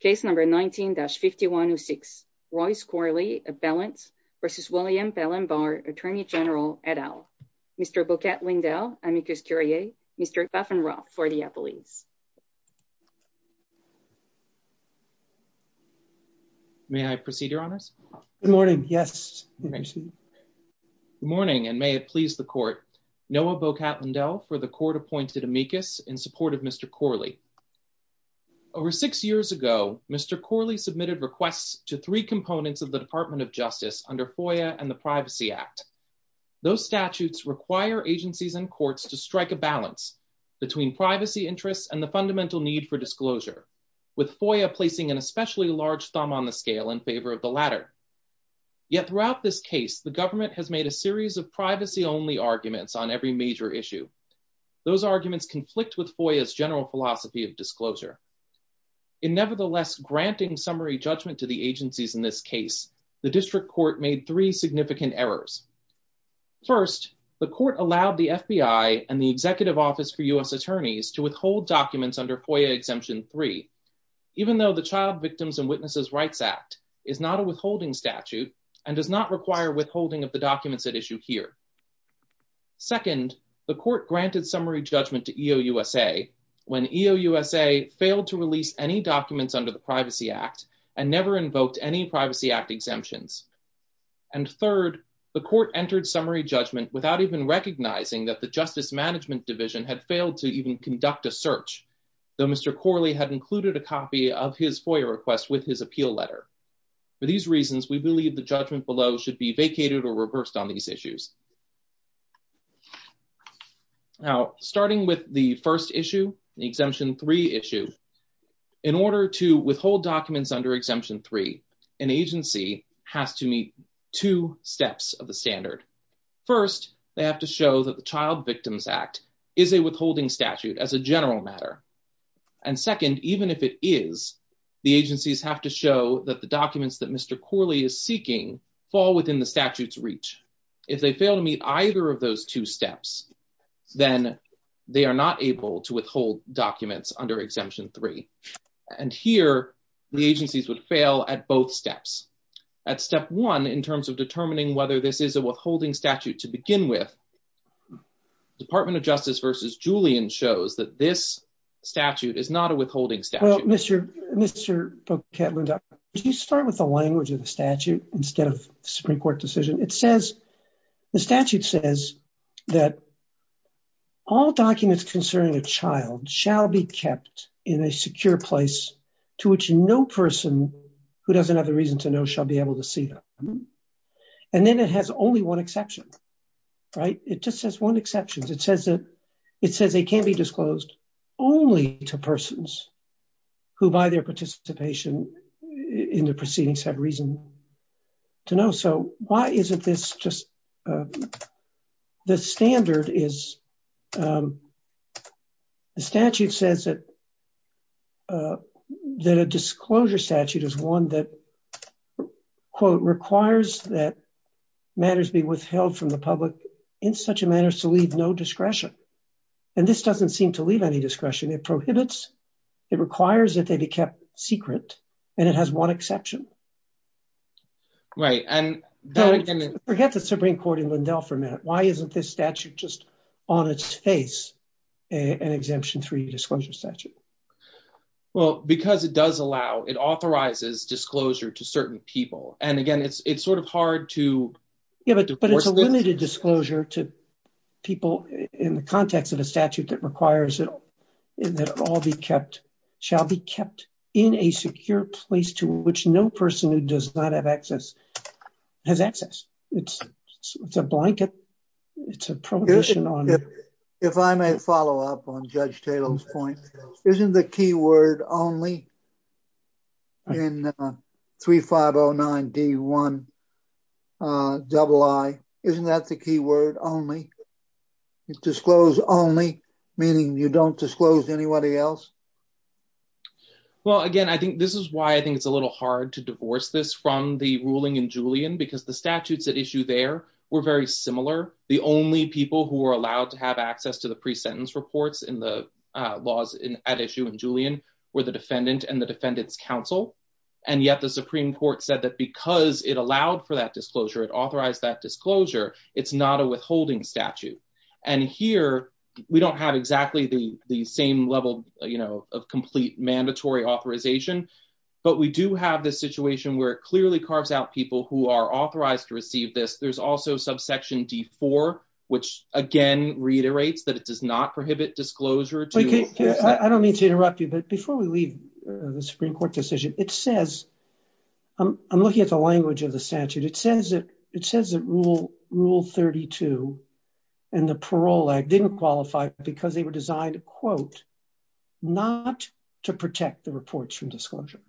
case number 19-5106 Royce Corley a balance versus William Bell and Barr attorney general et al. Mr. Boquette Lindell amicus curiae Mr. Buffenroth for the appellees. May I proceed your honors? Good morning yes. Good morning and may it please the court. Noah Boquette Lindell for the court appointed amicus in support of Mr. Corley. Over six years ago Mr. Corley submitted requests to three components of the Department of Justice under FOIA and the Privacy Act. Those statutes require agencies and courts to strike a balance between privacy interests and the fundamental need for disclosure with FOIA placing an especially large thumb on the scale in favor of the latter. Yet throughout this case the government has made a series of privacy arguments on every major issue. Those arguments conflict with FOIA's general philosophy of disclosure. In nevertheless granting summary judgment to the agencies in this case the district court made three significant errors. First the court allowed the FBI and the executive office for U.S. attorneys to withhold documents under FOIA exemption 3 even though the Child Victims and Witnesses Rights Act is not a withholding statute and does not require withholding of the documents at issue here. Second the court granted summary judgment to EOUSA when EOUSA failed to release any documents under the Privacy Act and never invoked any Privacy Act exemptions. And third the court entered summary judgment without even recognizing that the Justice Management Division had failed to even conduct a search though Mr. Corley had included a copy of his FOIA request with his appeal letter. For these reasons we believe the judgment below should be vacated or reversed on these issues. Now starting with the first issue the Exemption 3 issue in order to withhold documents under Exemption 3 an agency has to meet two steps of the standard. First they have to show that the Child Victims Act is a withholding statute as a general matter and second even if it is the agencies have to show that the documents that are within the statute's reach. If they fail to meet either of those two steps then they are not able to withhold documents under Exemption 3. And here the agencies would fail at both steps. At step one in terms of determining whether this is a withholding statute to begin with Department of Justice versus Julian shows that this statute is not a withholding statute. Well Mr. Boekelwinde, could you start with the language of the statute instead of the Supreme Court decision. It says the statute says that all documents concerning a child shall be kept in a secure place to which no person who doesn't have the reason to know shall be able to see them. And then it has only one exception right. It just says one exception. It says that it says they can be disclosed only to persons who by their participation in the proceedings have reason to know. So why isn't this just the standard is the statute says that that a disclosure statute is one that quote requires that matters be withheld from the public in such a manner as to leave no discretion. And this doesn't seem to leave any discretion. It prohibits. It requires that they be kept secret and it has one exception. Right and forget the Supreme Court in Lindell for a minute. Why isn't this statute just on its face an Exemption 3 disclosure statute. Well because it does allow it authorizes disclosure to certain people and again it's it's sort of hard to give it but it's a limited disclosure to people in the context of a statute that requires it that all be kept shall be kept in a secure place to which no person who does not have access has access. It's a blanket. It's a prohibition on if I may follow up on Judge point isn't the key word only in 3509 D1 double I isn't that the key word only disclose only meaning you don't disclose anybody else. Well again I think this is why I think it's a little hard to divorce this from the ruling in Julian because the statutes at issue there were very similar. The only people who are allowed to have access to the pre-sentence reports in the laws in at issue in Julian were the defendant and the defendant's counsel and yet the Supreme Court said that because it allowed for that disclosure it authorized that disclosure it's not a withholding statute and here we don't have exactly the the same level you know of complete mandatory authorization but we do have this situation where it clearly carves out people who are authorized to receive this. There's also subsection D4 which again reiterates that it does not prohibit disclosure. I don't mean to interrupt you but before we leave the Supreme Court decision it says I'm looking at the language of the statute it says that it says that rule rule 32 and the parole act didn't qualify because they were designed to quote not to protect the reports from disclosure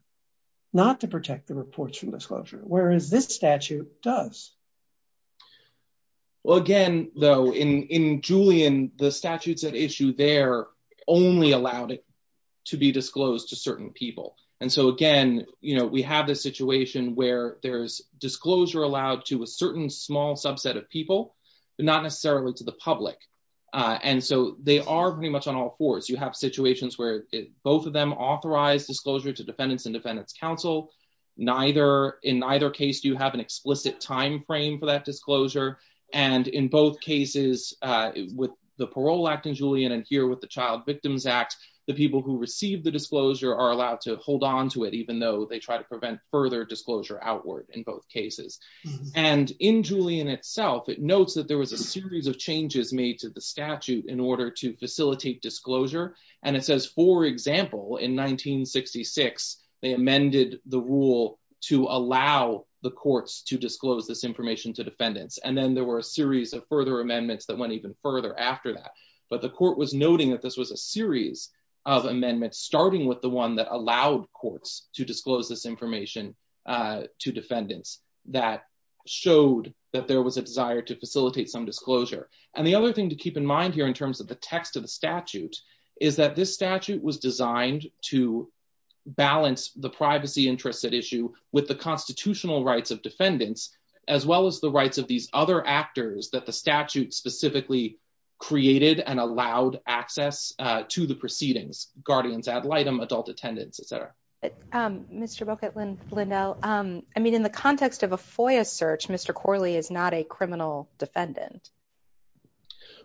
not to protect the reports from disclosure whereas this statute does. Well again though in in Julian the statutes at issue there only allowed it to be disclosed to certain people and so again you know we have this situation where there's disclosure allowed to a certain small subset of people but not necessarily to the public and so they are pretty much on all fours. You have situations where both of them authorize disclosure to defendants and defendant's neither in either case you have an explicit time frame for that disclosure and in both cases with the parole act in Julian and here with the child victims act the people who receive the disclosure are allowed to hold on to it even though they try to prevent further disclosure outward in both cases and in Julian itself it notes that there was a series of changes made to the statute in order to facilitate disclosure and it says for example in 1966 they amended the rule to allow the courts to disclose this information to defendants and then there were a series of further amendments that went even further after that but the court was noting that this was a series of amendments starting with the one that allowed courts to disclose this information to defendants that showed that there was a desire to facilitate some disclosure and the other thing to keep in mind here in terms of the text of the statute is that this statute was designed to balance the privacy interests at issue with the constitutional rights of defendants as well as the rights of these other actors that the statute specifically created and allowed access to the proceedings guardians ad litem adult attendance etc. Mr. Bookett-Lindell, I mean in the context of a FOIA search Mr. Corley is not a criminal defendant.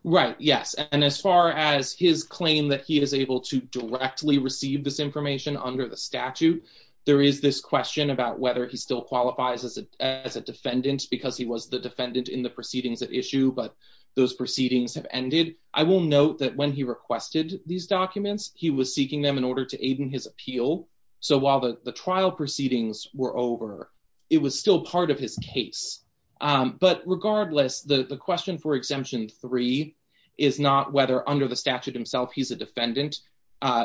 Right yes and as far as his claim that he is able to directly receive this information under the statute there is this question about whether he still qualifies as a as a defendant because he was the defendant in the proceedings at issue but those proceedings have ended. I will note that when he requested these documents he was seeking them in order to aid in so while the the trial proceedings were over it was still part of his case but regardless the question for exemption three is not whether under the statute himself he's a defendant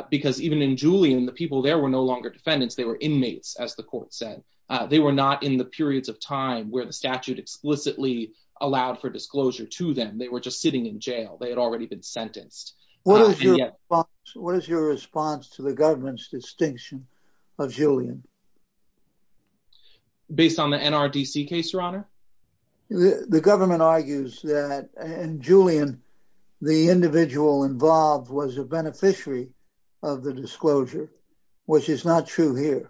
because even in Julian the people there were no longer defendants they were inmates as the court said they were not in the periods of time where the statute explicitly allowed for disclosure to them they were just sitting in jail they had already been sentenced. What is your response to the government's distinction of Julian? Based on the NRDC case your honor? The government argues that in Julian the individual involved was a beneficiary of the disclosure which is not true here.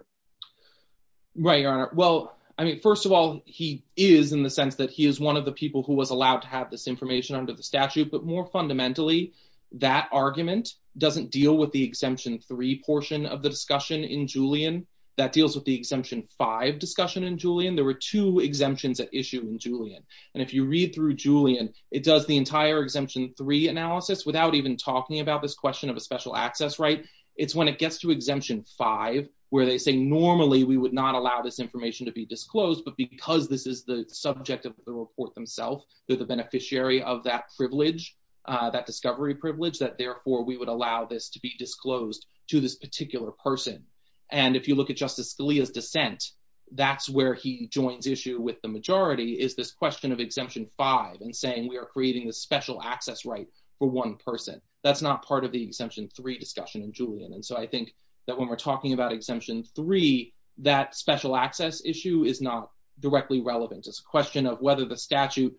Right your honor well I mean first of all he is in the sense that he is one of the people who was allowed to have this information under the statute but more fundamentally that argument doesn't deal with the exemption three portion of the discussion in Julian that deals with the exemption five discussion in Julian there were two exemptions at issue in Julian and if you read through Julian it does the entire exemption three analysis without even talking about this question of a special access right it's when it gets to exemption five where they say normally we would not allow this information to be disclosed but because this is the subject of the report themselves they're the beneficiary of that privilege that discovery privilege that therefore we would allow this to be disclosed to this particular person and if you look at justice Scalia's dissent that's where he joins issue with the majority is this question of exemption five and saying we are creating the special access right for one person that's not part of the exemption three discussion in Julian and so I think that when we're talking about exemption three that special access issue is not directly relevant it's a question of whether the statute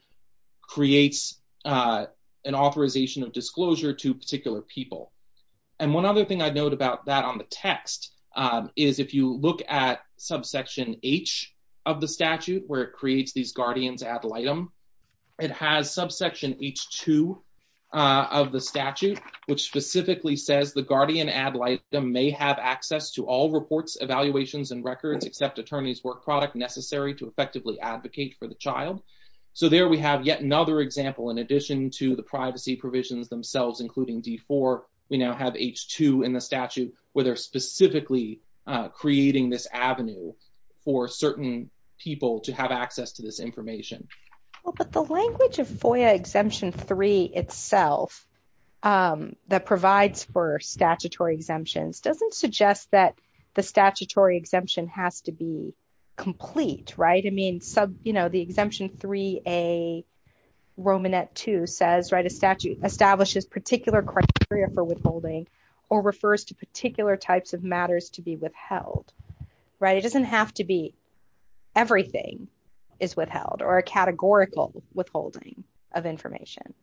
creates an authorization of disclosure to particular people and one other thing I'd note about that on the text is if you look at subsection h of the statute where it creates these guardians ad litem it has subsection h2 of the statute which specifically says the guardian ad litem may have access to all reports evaluations and records except attorney's work product necessary to effectively advocate for the child so there we have yet another example in addition to the privacy provisions themselves including d4 we now have h2 in the statute where they're specifically creating this avenue for certain people to have access to this information well but the language of FOIA exemption 3 itself that provides for statutory exemptions doesn't suggest that the statutory exemption has to be complete right I mean sub you know the exemption 3a romanette 2 says right a statute establishes particular criteria for withholding or refers to particular types of matters to be withheld right it doesn't have to be everything is withheld or a categorical withholding of information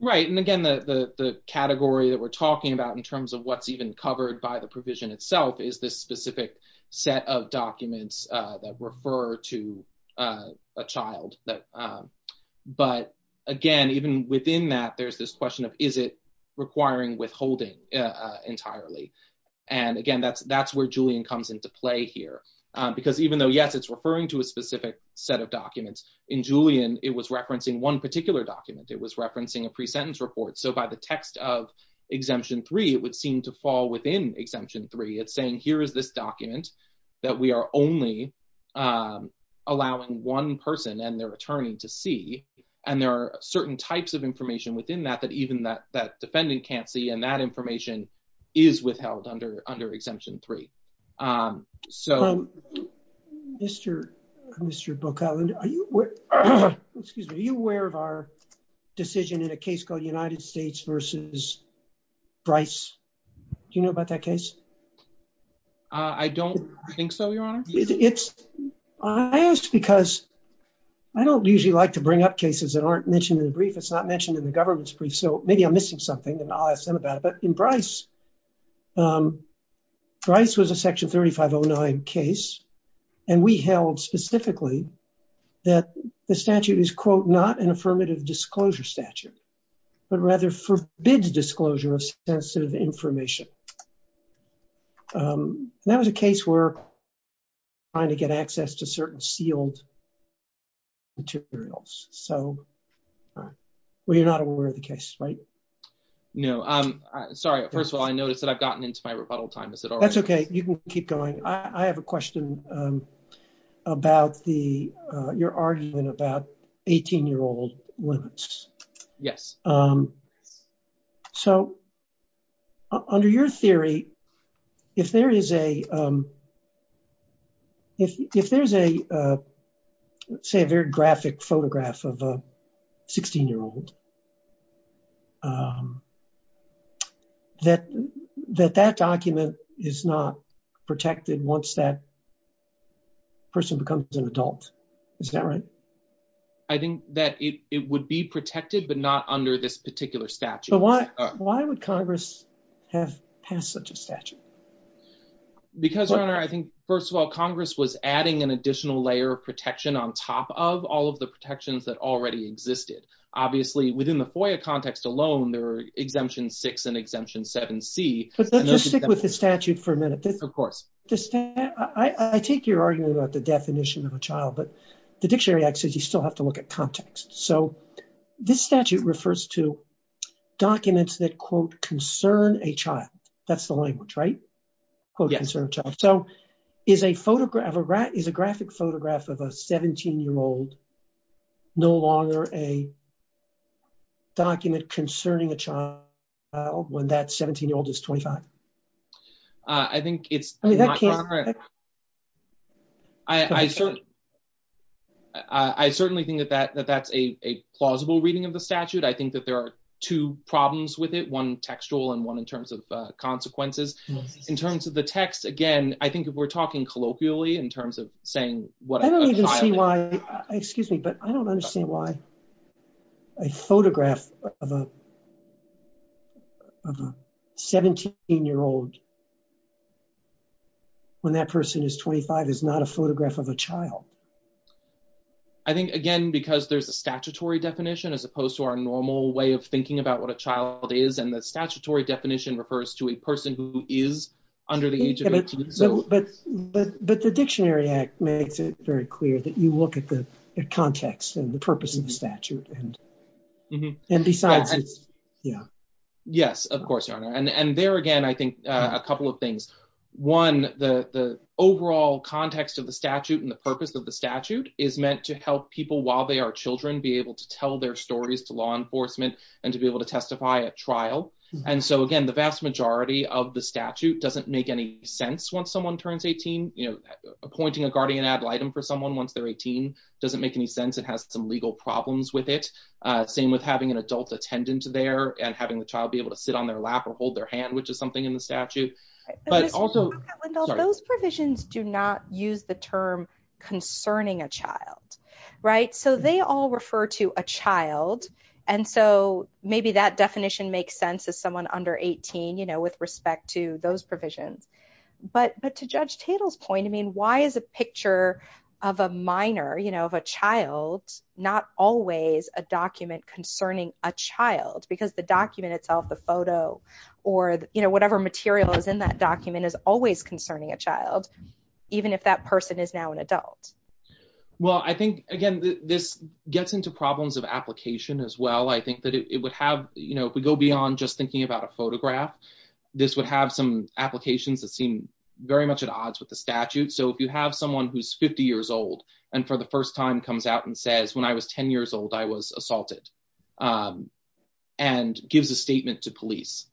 right and again the the category that we're talking about in terms of what's even covered by the provision itself is this specific set of documents that refer to a child that but again even within that there's this question of is it requiring withholding entirely and again that's that's where julian comes into play here because even though yes referring to a specific set of documents in julian it was referencing one particular document it was referencing a pre-sentence report so by the text of exemption 3 it would seem to fall within exemption 3 it's saying here is this document that we are only allowing one person and their attorney to see and there are certain types of information within that that even that that defendant can't see and that information is withheld under under exemption 3 um so um mr mr book outland are you excuse me are you aware of our decision in a case called united states versus bryce do you know about that case uh i don't think so your honor it's i asked because i don't usually like to bring up cases that aren't mentioned in the brief it's not mentioned in the government's brief so maybe i'm missing something and i'll ask them about it but in bryce um bryce was a section 3509 case and we held specifically that the statute is quote not an affirmative disclosure statute but rather forbids disclosure of sensitive information um that was a case where trying to get access to certain sealed materials so all right well you're not aware of the case right no i'm sorry first of all i noticed that i've gotten into my rebuttal time is it all that's okay you can keep going i i have a question um about the uh your argument about 18 year old women yes um so under your theory if there is a um if if there's a uh let's say a very graphic photograph of a 16 year old um that that that document is not protected once that person becomes an adult is that right i think that it it would be protected but not under this particular statute why why would congress have passed such a statute because your honor i think first of all congress was adding an additional layer of protection on top of all of the protections that already existed obviously within the FOIA context alone there are exemption six and exemption seven c but let's just stick with the statute for a minute of course just i i take your argument about the definition of a child but the dictionary act says you still have to look at context so this statute refers to documents that quote concern a child that's the language right yes so is a photograph of a rat is a graphic photograph of a 17 year old no longer a document concerning a child when that 17 year old is 25 i think it's i mean that can't i i certainly i i certainly think that that that's a plausible reading of the statute i think that there are two problems with it one textual and one in terms of consequences in terms of the text again i think if we're talking colloquially in terms of saying what i don't even see why excuse me but i don't understand why a photograph of a of a 17 year old when that person is 25 is not a photograph of a child i think again because there's a statutory definition as opposed to our normal way of thinking about what a child is and the statutory definition refers to a person who is under the age of but but but the dictionary act makes it very clear that you look at the context and the purpose of the statute and and besides yeah yes of course your honor and and there again i think a couple of things one the the overall context of the statute and the purpose of the statute is meant to help people while they are children be able to tell their stories to law enforcement and to be able to testify at trial and so again the vast majority of the statute doesn't make any sense once someone turns 18 you know appointing a guardian ad litem for someone once they're 18 doesn't make any sense it has some legal problems with it uh same with having an adult attendant there and having the child be able to sit on their lap or hold their hand which is something in the statute but also those provisions do not use the term concerning a child right so they all refer to a child and so maybe that definition makes sense as someone under 18 you know with respect to those provisions but but to judge tatel's point i mean why is a picture of a minor you know of a child not always a document concerning a child because the document itself the photo or you know whatever material is in that document is always concerning a child even if that person is now an adult well i think again this gets into problems of application as well i think that it would have you know if we go beyond just thinking about a photograph this would have some applications that seem very much at odds with the statute so if you have someone who's 50 years old and for the first time comes out and says when i was 10 years old i was police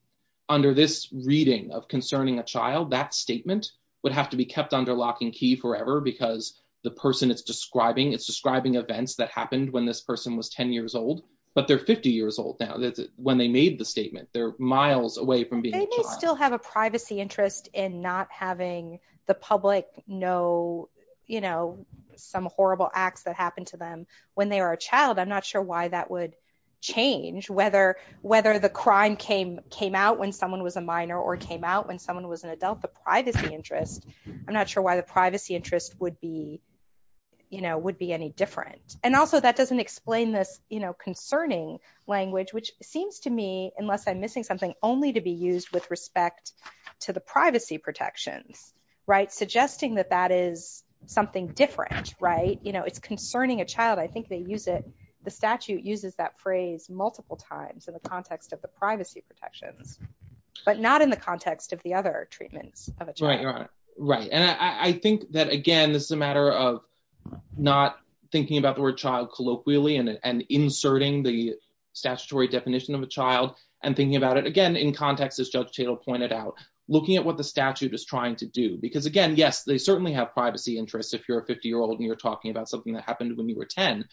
under this reading of concerning a child that statement would have to be kept under lock and key forever because the person is describing it's describing events that happened when this person was 10 years old but they're 50 years old now that's when they made the statement they're miles away from being they still have a privacy interest in not having the public know you know some horrible acts that happened to them when they were a child i'm not sure why that would change whether whether the crime came came out when someone was a minor or came out when someone was an adult the privacy interest i'm not sure why the privacy interest would be you know would be any different and also that doesn't explain this you know concerning language which seems to me unless i'm missing something only to be used with respect to the privacy protections right suggesting that that is something different right you know it's concerning a child i think they use the statute uses that phrase multiple times in the context of the privacy protections but not in the context of the other treatments of a child right and i i think that again this is a matter of not thinking about the word child colloquially and and inserting the statutory definition of a child and thinking about it again in context as judge chadle pointed out looking at what the statute is trying to do because again yes they certainly have privacy interests if you're a 50 year old and you're talking about something that happened when you were 10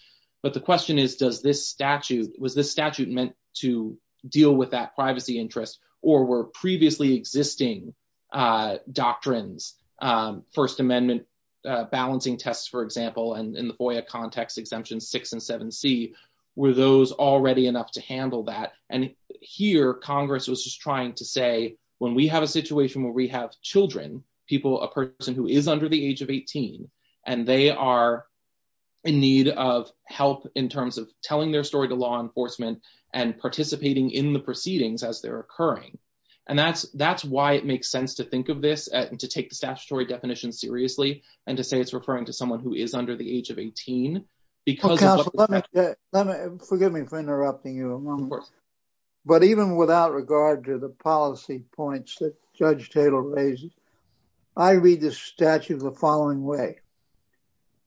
but the question is does this statute was this statute meant to deal with that privacy interest or were previously existing uh doctrines um first amendment uh balancing tests for example and in the FOIA context exemption 6 and 7c were those already enough to handle that and here congress was just trying to say when we have a situation where we have children people a person who is under the age of 18 and they are in need of help in terms of telling their story to law enforcement and participating in the proceedings as they're occurring and that's that's why it makes sense to think of this and to take the statutory definition seriously and to say it's referring to someone who is under the age of 18 because let me let me forgive me for interrupting of course but even without regard to the policy points that judge taylor raises i read the statute the following way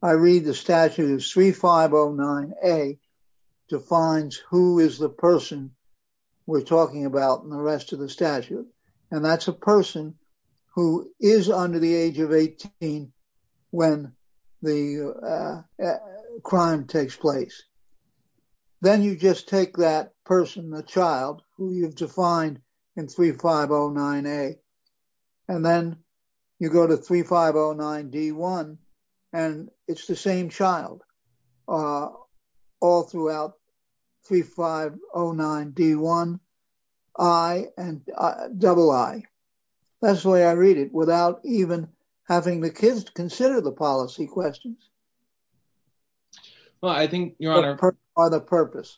i read the statute of 3509a defines who is the person we're talking about in the rest of the statute and that's a person who is under the age of 18 when the uh crime takes place then you just take that person the child who you've defined in 3509a and then you go to 3509d1 and it's the same child uh all throughout 3509d1 i and double i that's the way i read it without even having the kids to consider the policy questions well i think your honor are the purpose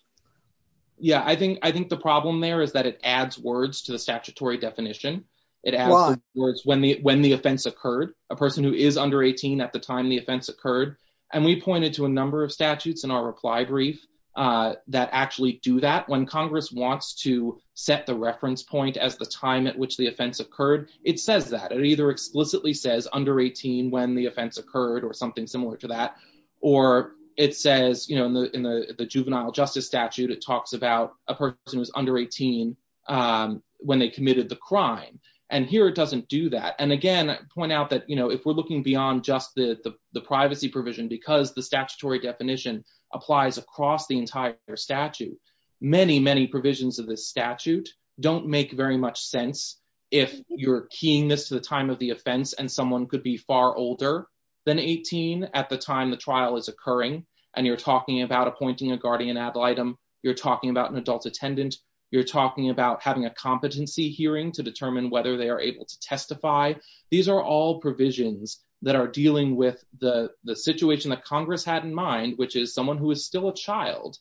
yeah i think i think the problem there is that it adds words to the statutory definition it adds words when the when the offense occurred a person who is under 18 at the time the offense occurred and we pointed to a number of statutes in our brief uh that actually do that when congress wants to set the reference point as the time at which the offense occurred it says that it either explicitly says under 18 when the offense occurred or something similar to that or it says you know in the in the juvenile justice statute it talks about a person who's under 18 um when they committed the crime and here it doesn't do that and again i point out that you know if we're looking beyond just the the privacy provision because the statutory definition applies across the entire statute many many provisions of this statute don't make very much sense if you're keying this to the time of the offense and someone could be far older than 18 at the time the trial is occurring and you're talking about appointing a guardian ad litem you're talking about an adult attendant you're talking about having a competency hearing to determine whether they are able to testify these are all provisions that are dealing with the the situation that congress had in mind which is someone who is still a child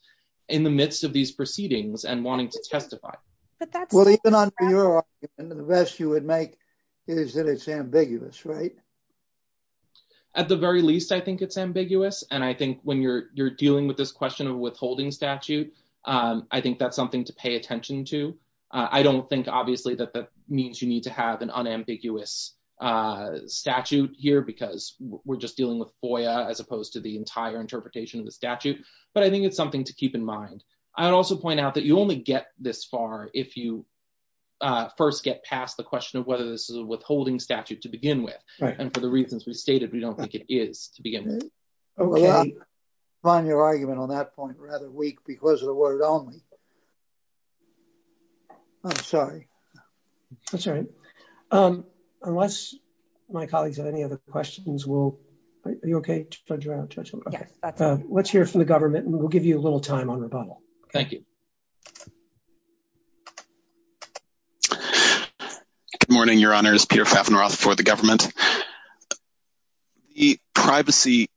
in the midst of these proceedings and wanting to testify but that's well even under your argument the best you would make is that it's ambiguous right at the very least i think it's ambiguous and i think when you're you're dealing with this question of withholding statute um i think that's something to pay attention to i don't think obviously that that means you need to have an just dealing with foia as opposed to the entire interpretation of the statute but i think it's something to keep in mind i would also point out that you only get this far if you uh first get past the question of whether this is a withholding statute to begin with right and for the reasons we stated we don't think it is to begin with okay find your argument on that point rather weak because of the word only i'm sorry that's all right um unless my colleagues have any other questions we'll are you okay judge let's hear from the government and we'll give you a little time on rebuttal thank you good morning your honor is peter faffenroth for the government the privacy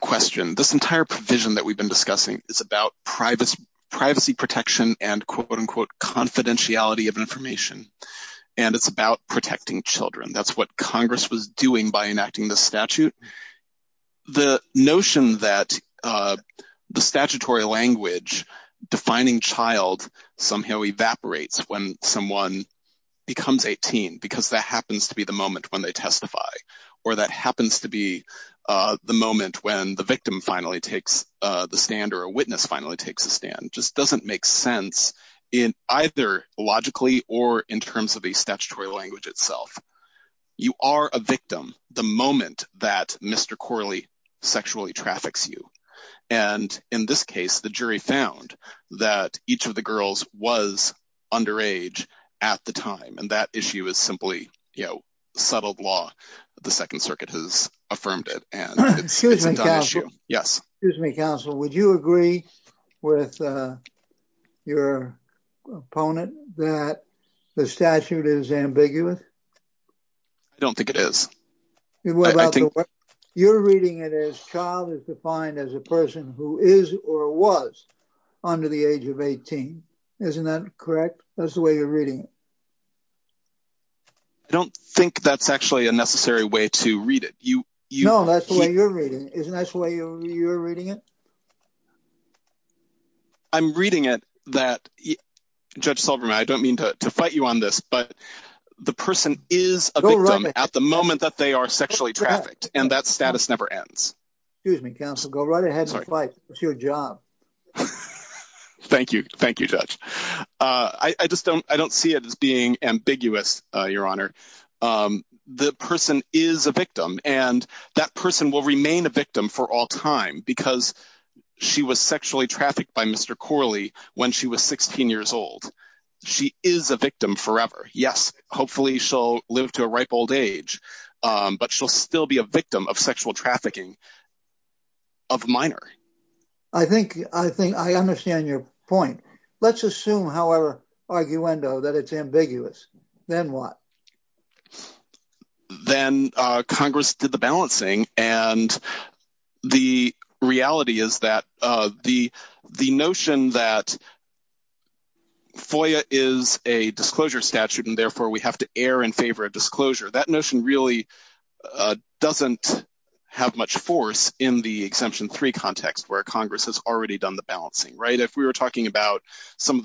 question this entire provision that we've been discussing is about privacy privacy protection and quote unquote confidentiality of information and it's about protecting children that's what congress was doing by enacting this statute the notion that uh the statutory language defining child somehow evaporates when someone becomes 18 because that happens to be the moment when they testify or that happens to be uh the moment when the victim finally takes uh the stand or a witness finally takes a stand just doesn't make sense in either logically or in terms of a statutory language itself you are a victim the moment that mr corley sexually traffics you and in this case the jury found that each of the girls was underage at the time and that issue is simply you know settled law the second circuit has your opponent that the statute is ambiguous i don't think it is you're reading it as child is defined as a person who is or was under the age of 18 isn't that correct that's the way you're reading it i don't think that's actually a necessary way to read it you you know that's the way you're reading isn't that's the way you're reading it i'm reading it that judge solverman i don't mean to to fight you on this but the person is a victim at the moment that they are sexually trafficked and that status never ends excuse me counsel go right ahead and fight it's your job thank you thank you judge uh i i just don't i don't see it as being ambiguous uh your honor um the person is a victim and that person will remain a victim for all time because she was sexually trafficked by mr corley when she was 16 years old she is a victim forever yes hopefully she'll live to a ripe old age um but she'll still be a victim of sexual trafficking of minor i think i think i understand your point let's assume arguendo that it's ambiguous then what then uh congress did the balancing and the reality is that uh the the notion that foia is a disclosure statute and therefore we have to err in favor of disclosure that notion really doesn't have much force in the exemption 3 context where congress has already done the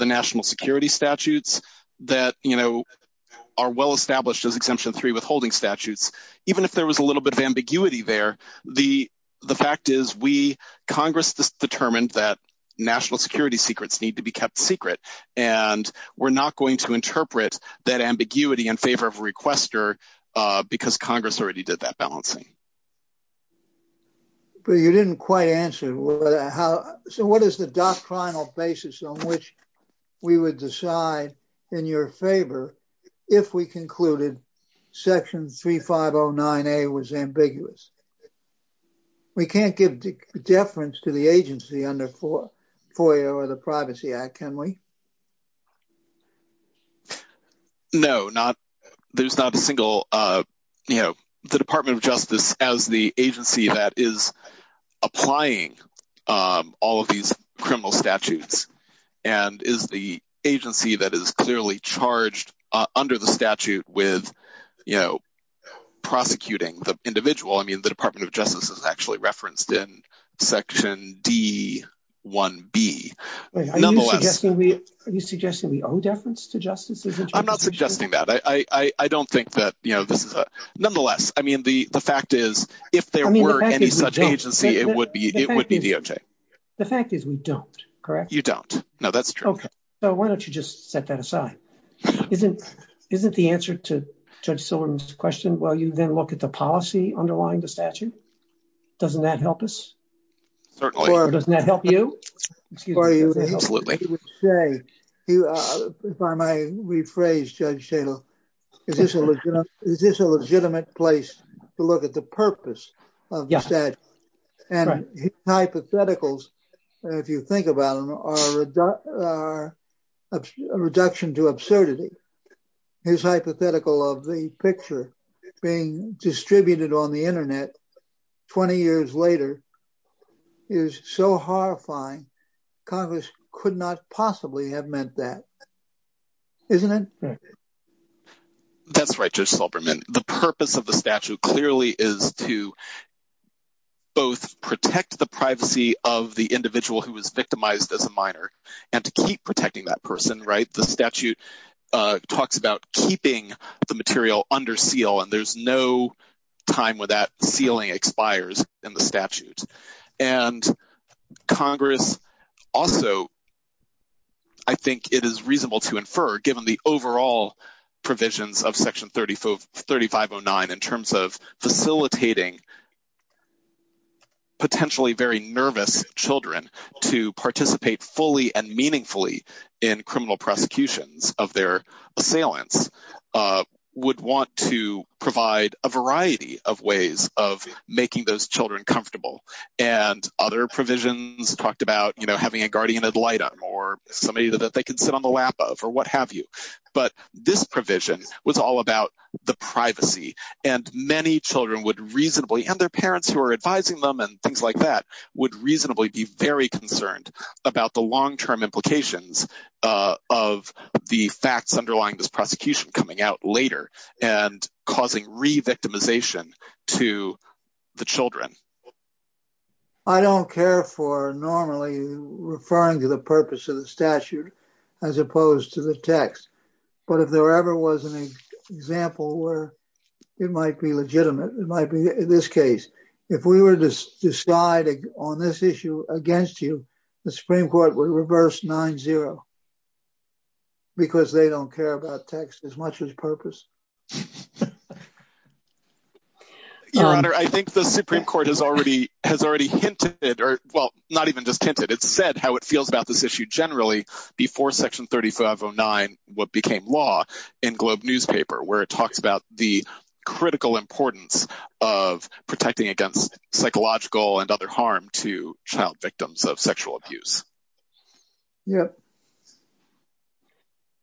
national security statutes that you know are well established as exemption 3 withholding statutes even if there was a little bit of ambiguity there the the fact is we congress just determined that national security secrets need to be kept secret and we're not going to interpret that ambiguity in favor of a requester uh because congress already did that balancing but you didn't quite answer how so what is the doctrinal basis on which we would decide in your favor if we concluded section 3509a was ambiguous we can't give deference to the agency under four foyer or the privacy act can we no not there's not a single uh you know the department of justice as the agency that is applying um all of these criminal statutes and is the agency that is clearly charged under the statute with you know prosecuting the individual i mean the department of justice is justice i'm not suggesting that i i i don't think that you know this is a nonetheless i mean the the fact is if there were any such agency it would be it would be doj the fact is we don't correct you don't no that's true okay so why don't you just set that aside isn't isn't the answer to judge sylvan's question well you then look at the policy underlying the statute doesn't that help us certainly doesn't that help you if i may rephrase judge jato is this a legitimate is this a legitimate place to look at the purpose of yes and hypotheticals if you think about them are a reduction to absurdity his hypothetical of the picture being distributed on the internet 20 years later is so horrifying congress could not possibly have meant that isn't it that's right josh subraman the purpose of the statute clearly is to both protect the privacy of the individual who was victimized as a minor and to keep protecting that person right the statute uh talks about keeping the material under seal and there's no time where that sealing expires in the statute and congress also i think it is reasonable to infer given the overall provisions of section 35 3509 in terms of facilitating potentially very nervous children to participate fully and meaningfully in criminal prosecutions of their assailants would want to provide a variety of ways of making those children comfortable and other provisions talked about you know having a guardian ad litem or somebody that they can sit on the lap of or what have you but this provision was all about the privacy and many children would reasonably and their parents who are advising them and things like that would reasonably be very uh of the facts underlying this prosecution coming out later and causing re-victimization to the children i don't care for normally referring to the purpose of the statute as opposed to the text but if there ever was an example where it might be legitimate it might be in this case if we were to decide on this issue against you the supreme court would reverse 9-0 because they don't care about text as much as purpose your honor i think the supreme court has already has already hinted or well not even just hinted it said how it feels about this issue generally before section 3509 what became law in globe where it talks about the critical importance of protecting against psychological and other harm to child victims of sexual abuse yeah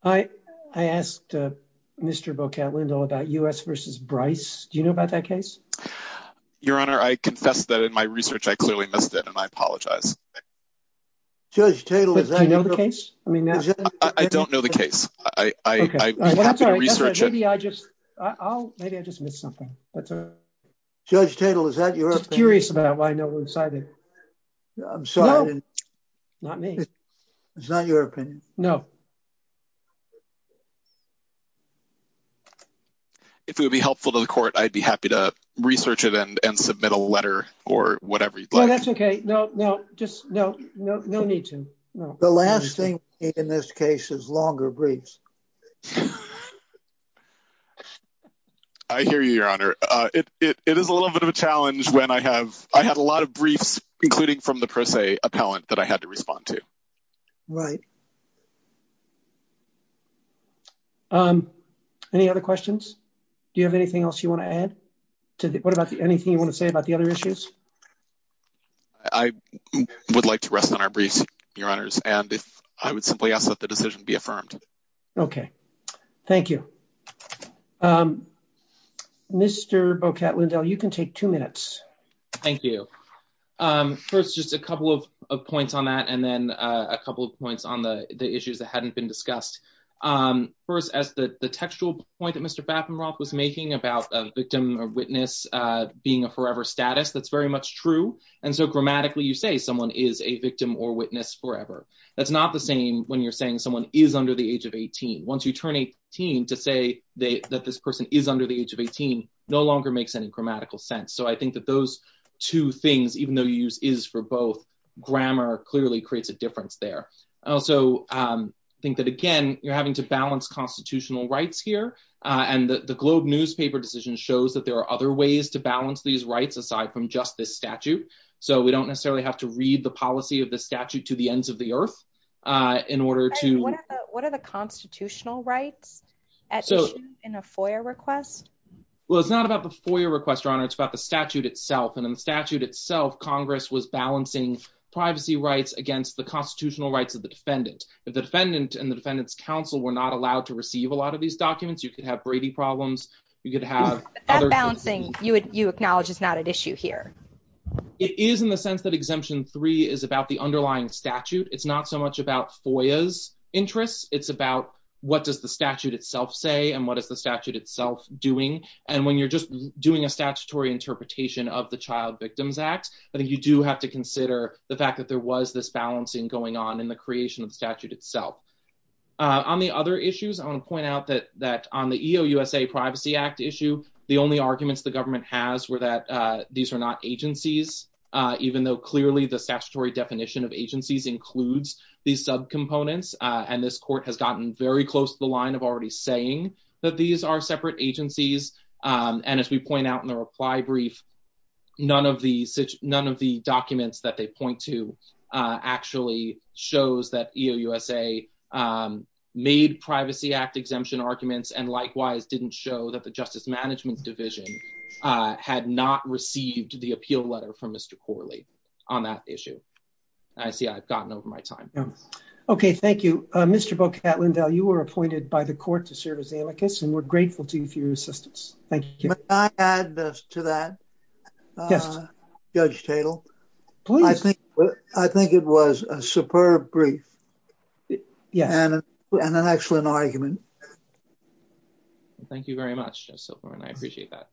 i i asked uh mr bocat lindell about u.s versus bryce do you know about that case your honor i confess that in my research i clearly missed it and i maybe i just i'll maybe i just missed something that's all judge tatel is that you're curious about why no one decided i'm sorry not me it's not your opinion no if it would be helpful to the court i'd be happy to research it and and submit a letter or whatever you'd like that's okay no no just no no no need to no the last thing in this case is longer briefs i hear you your honor uh it it is a little bit of a challenge when i have i had a lot of briefs including from the pro se appellant that i had to respond to right um any other questions do you have anything else you want to add to what about anything you want to say about the other issues i would like to rest on our briefs your honors and if i would simply ask that the decision be affirmed okay thank you um mr bocat lindell you can take two minutes thank you um first just a couple of points on that and then a couple of points on the the issues that hadn't been discussed um first as the the textual point that mr battenroth was making about a victim or witness uh being a forever status that's very much true and so you say someone is a victim or witness forever that's not the same when you're saying someone is under the age of 18 once you turn 18 to say they that this person is under the age of 18 no longer makes any grammatical sense so i think that those two things even though you use is for both grammar clearly creates a difference there i also um think that again you're having to balance constitutional rights here uh and the globe newspaper decision shows that there are other to balance these rights aside from just this statute so we don't necessarily have to read the policy of the statute to the ends of the earth uh in order to what are the constitutional rights in a foyer request well it's not about the foyer request your honor it's about the statute itself and in the statute itself congress was balancing privacy rights against the constitutional rights of the defendant if the defendant and the defendant's counsel were not allowed to receive a lot of these documents you could have brady problems you could have that balancing you would you acknowledge it's not an issue here it is in the sense that exemption three is about the underlying statute it's not so much about foya's interests it's about what does the statute itself say and what is the statute itself doing and when you're just doing a statutory interpretation of the child victims act i think you do have to consider the fact that there was this balancing going on in the creation of the statute itself on the other issues i want to point out that that on the eo usa privacy act issue the only arguments the government has were that uh these are not agencies uh even though clearly the statutory definition of agencies includes these sub components uh and this court has gotten very close to the line of already saying that these are separate agencies um and as we point out in the reply brief none of the none of the documents that they point to uh actually shows that eo usa um made privacy act exemption arguments and likewise didn't show that the justice management division uh had not received the appeal letter from mr corley on that issue i see i've gotten over my time okay thank you uh mr bocat lindell you were appointed by the court to serve as amicus and we're grateful to you for your assistance thank you may i add this to that uh judge tatel please i think i think it was a superb brief yeah and an excellent argument thank you very much just so far and i appreciate that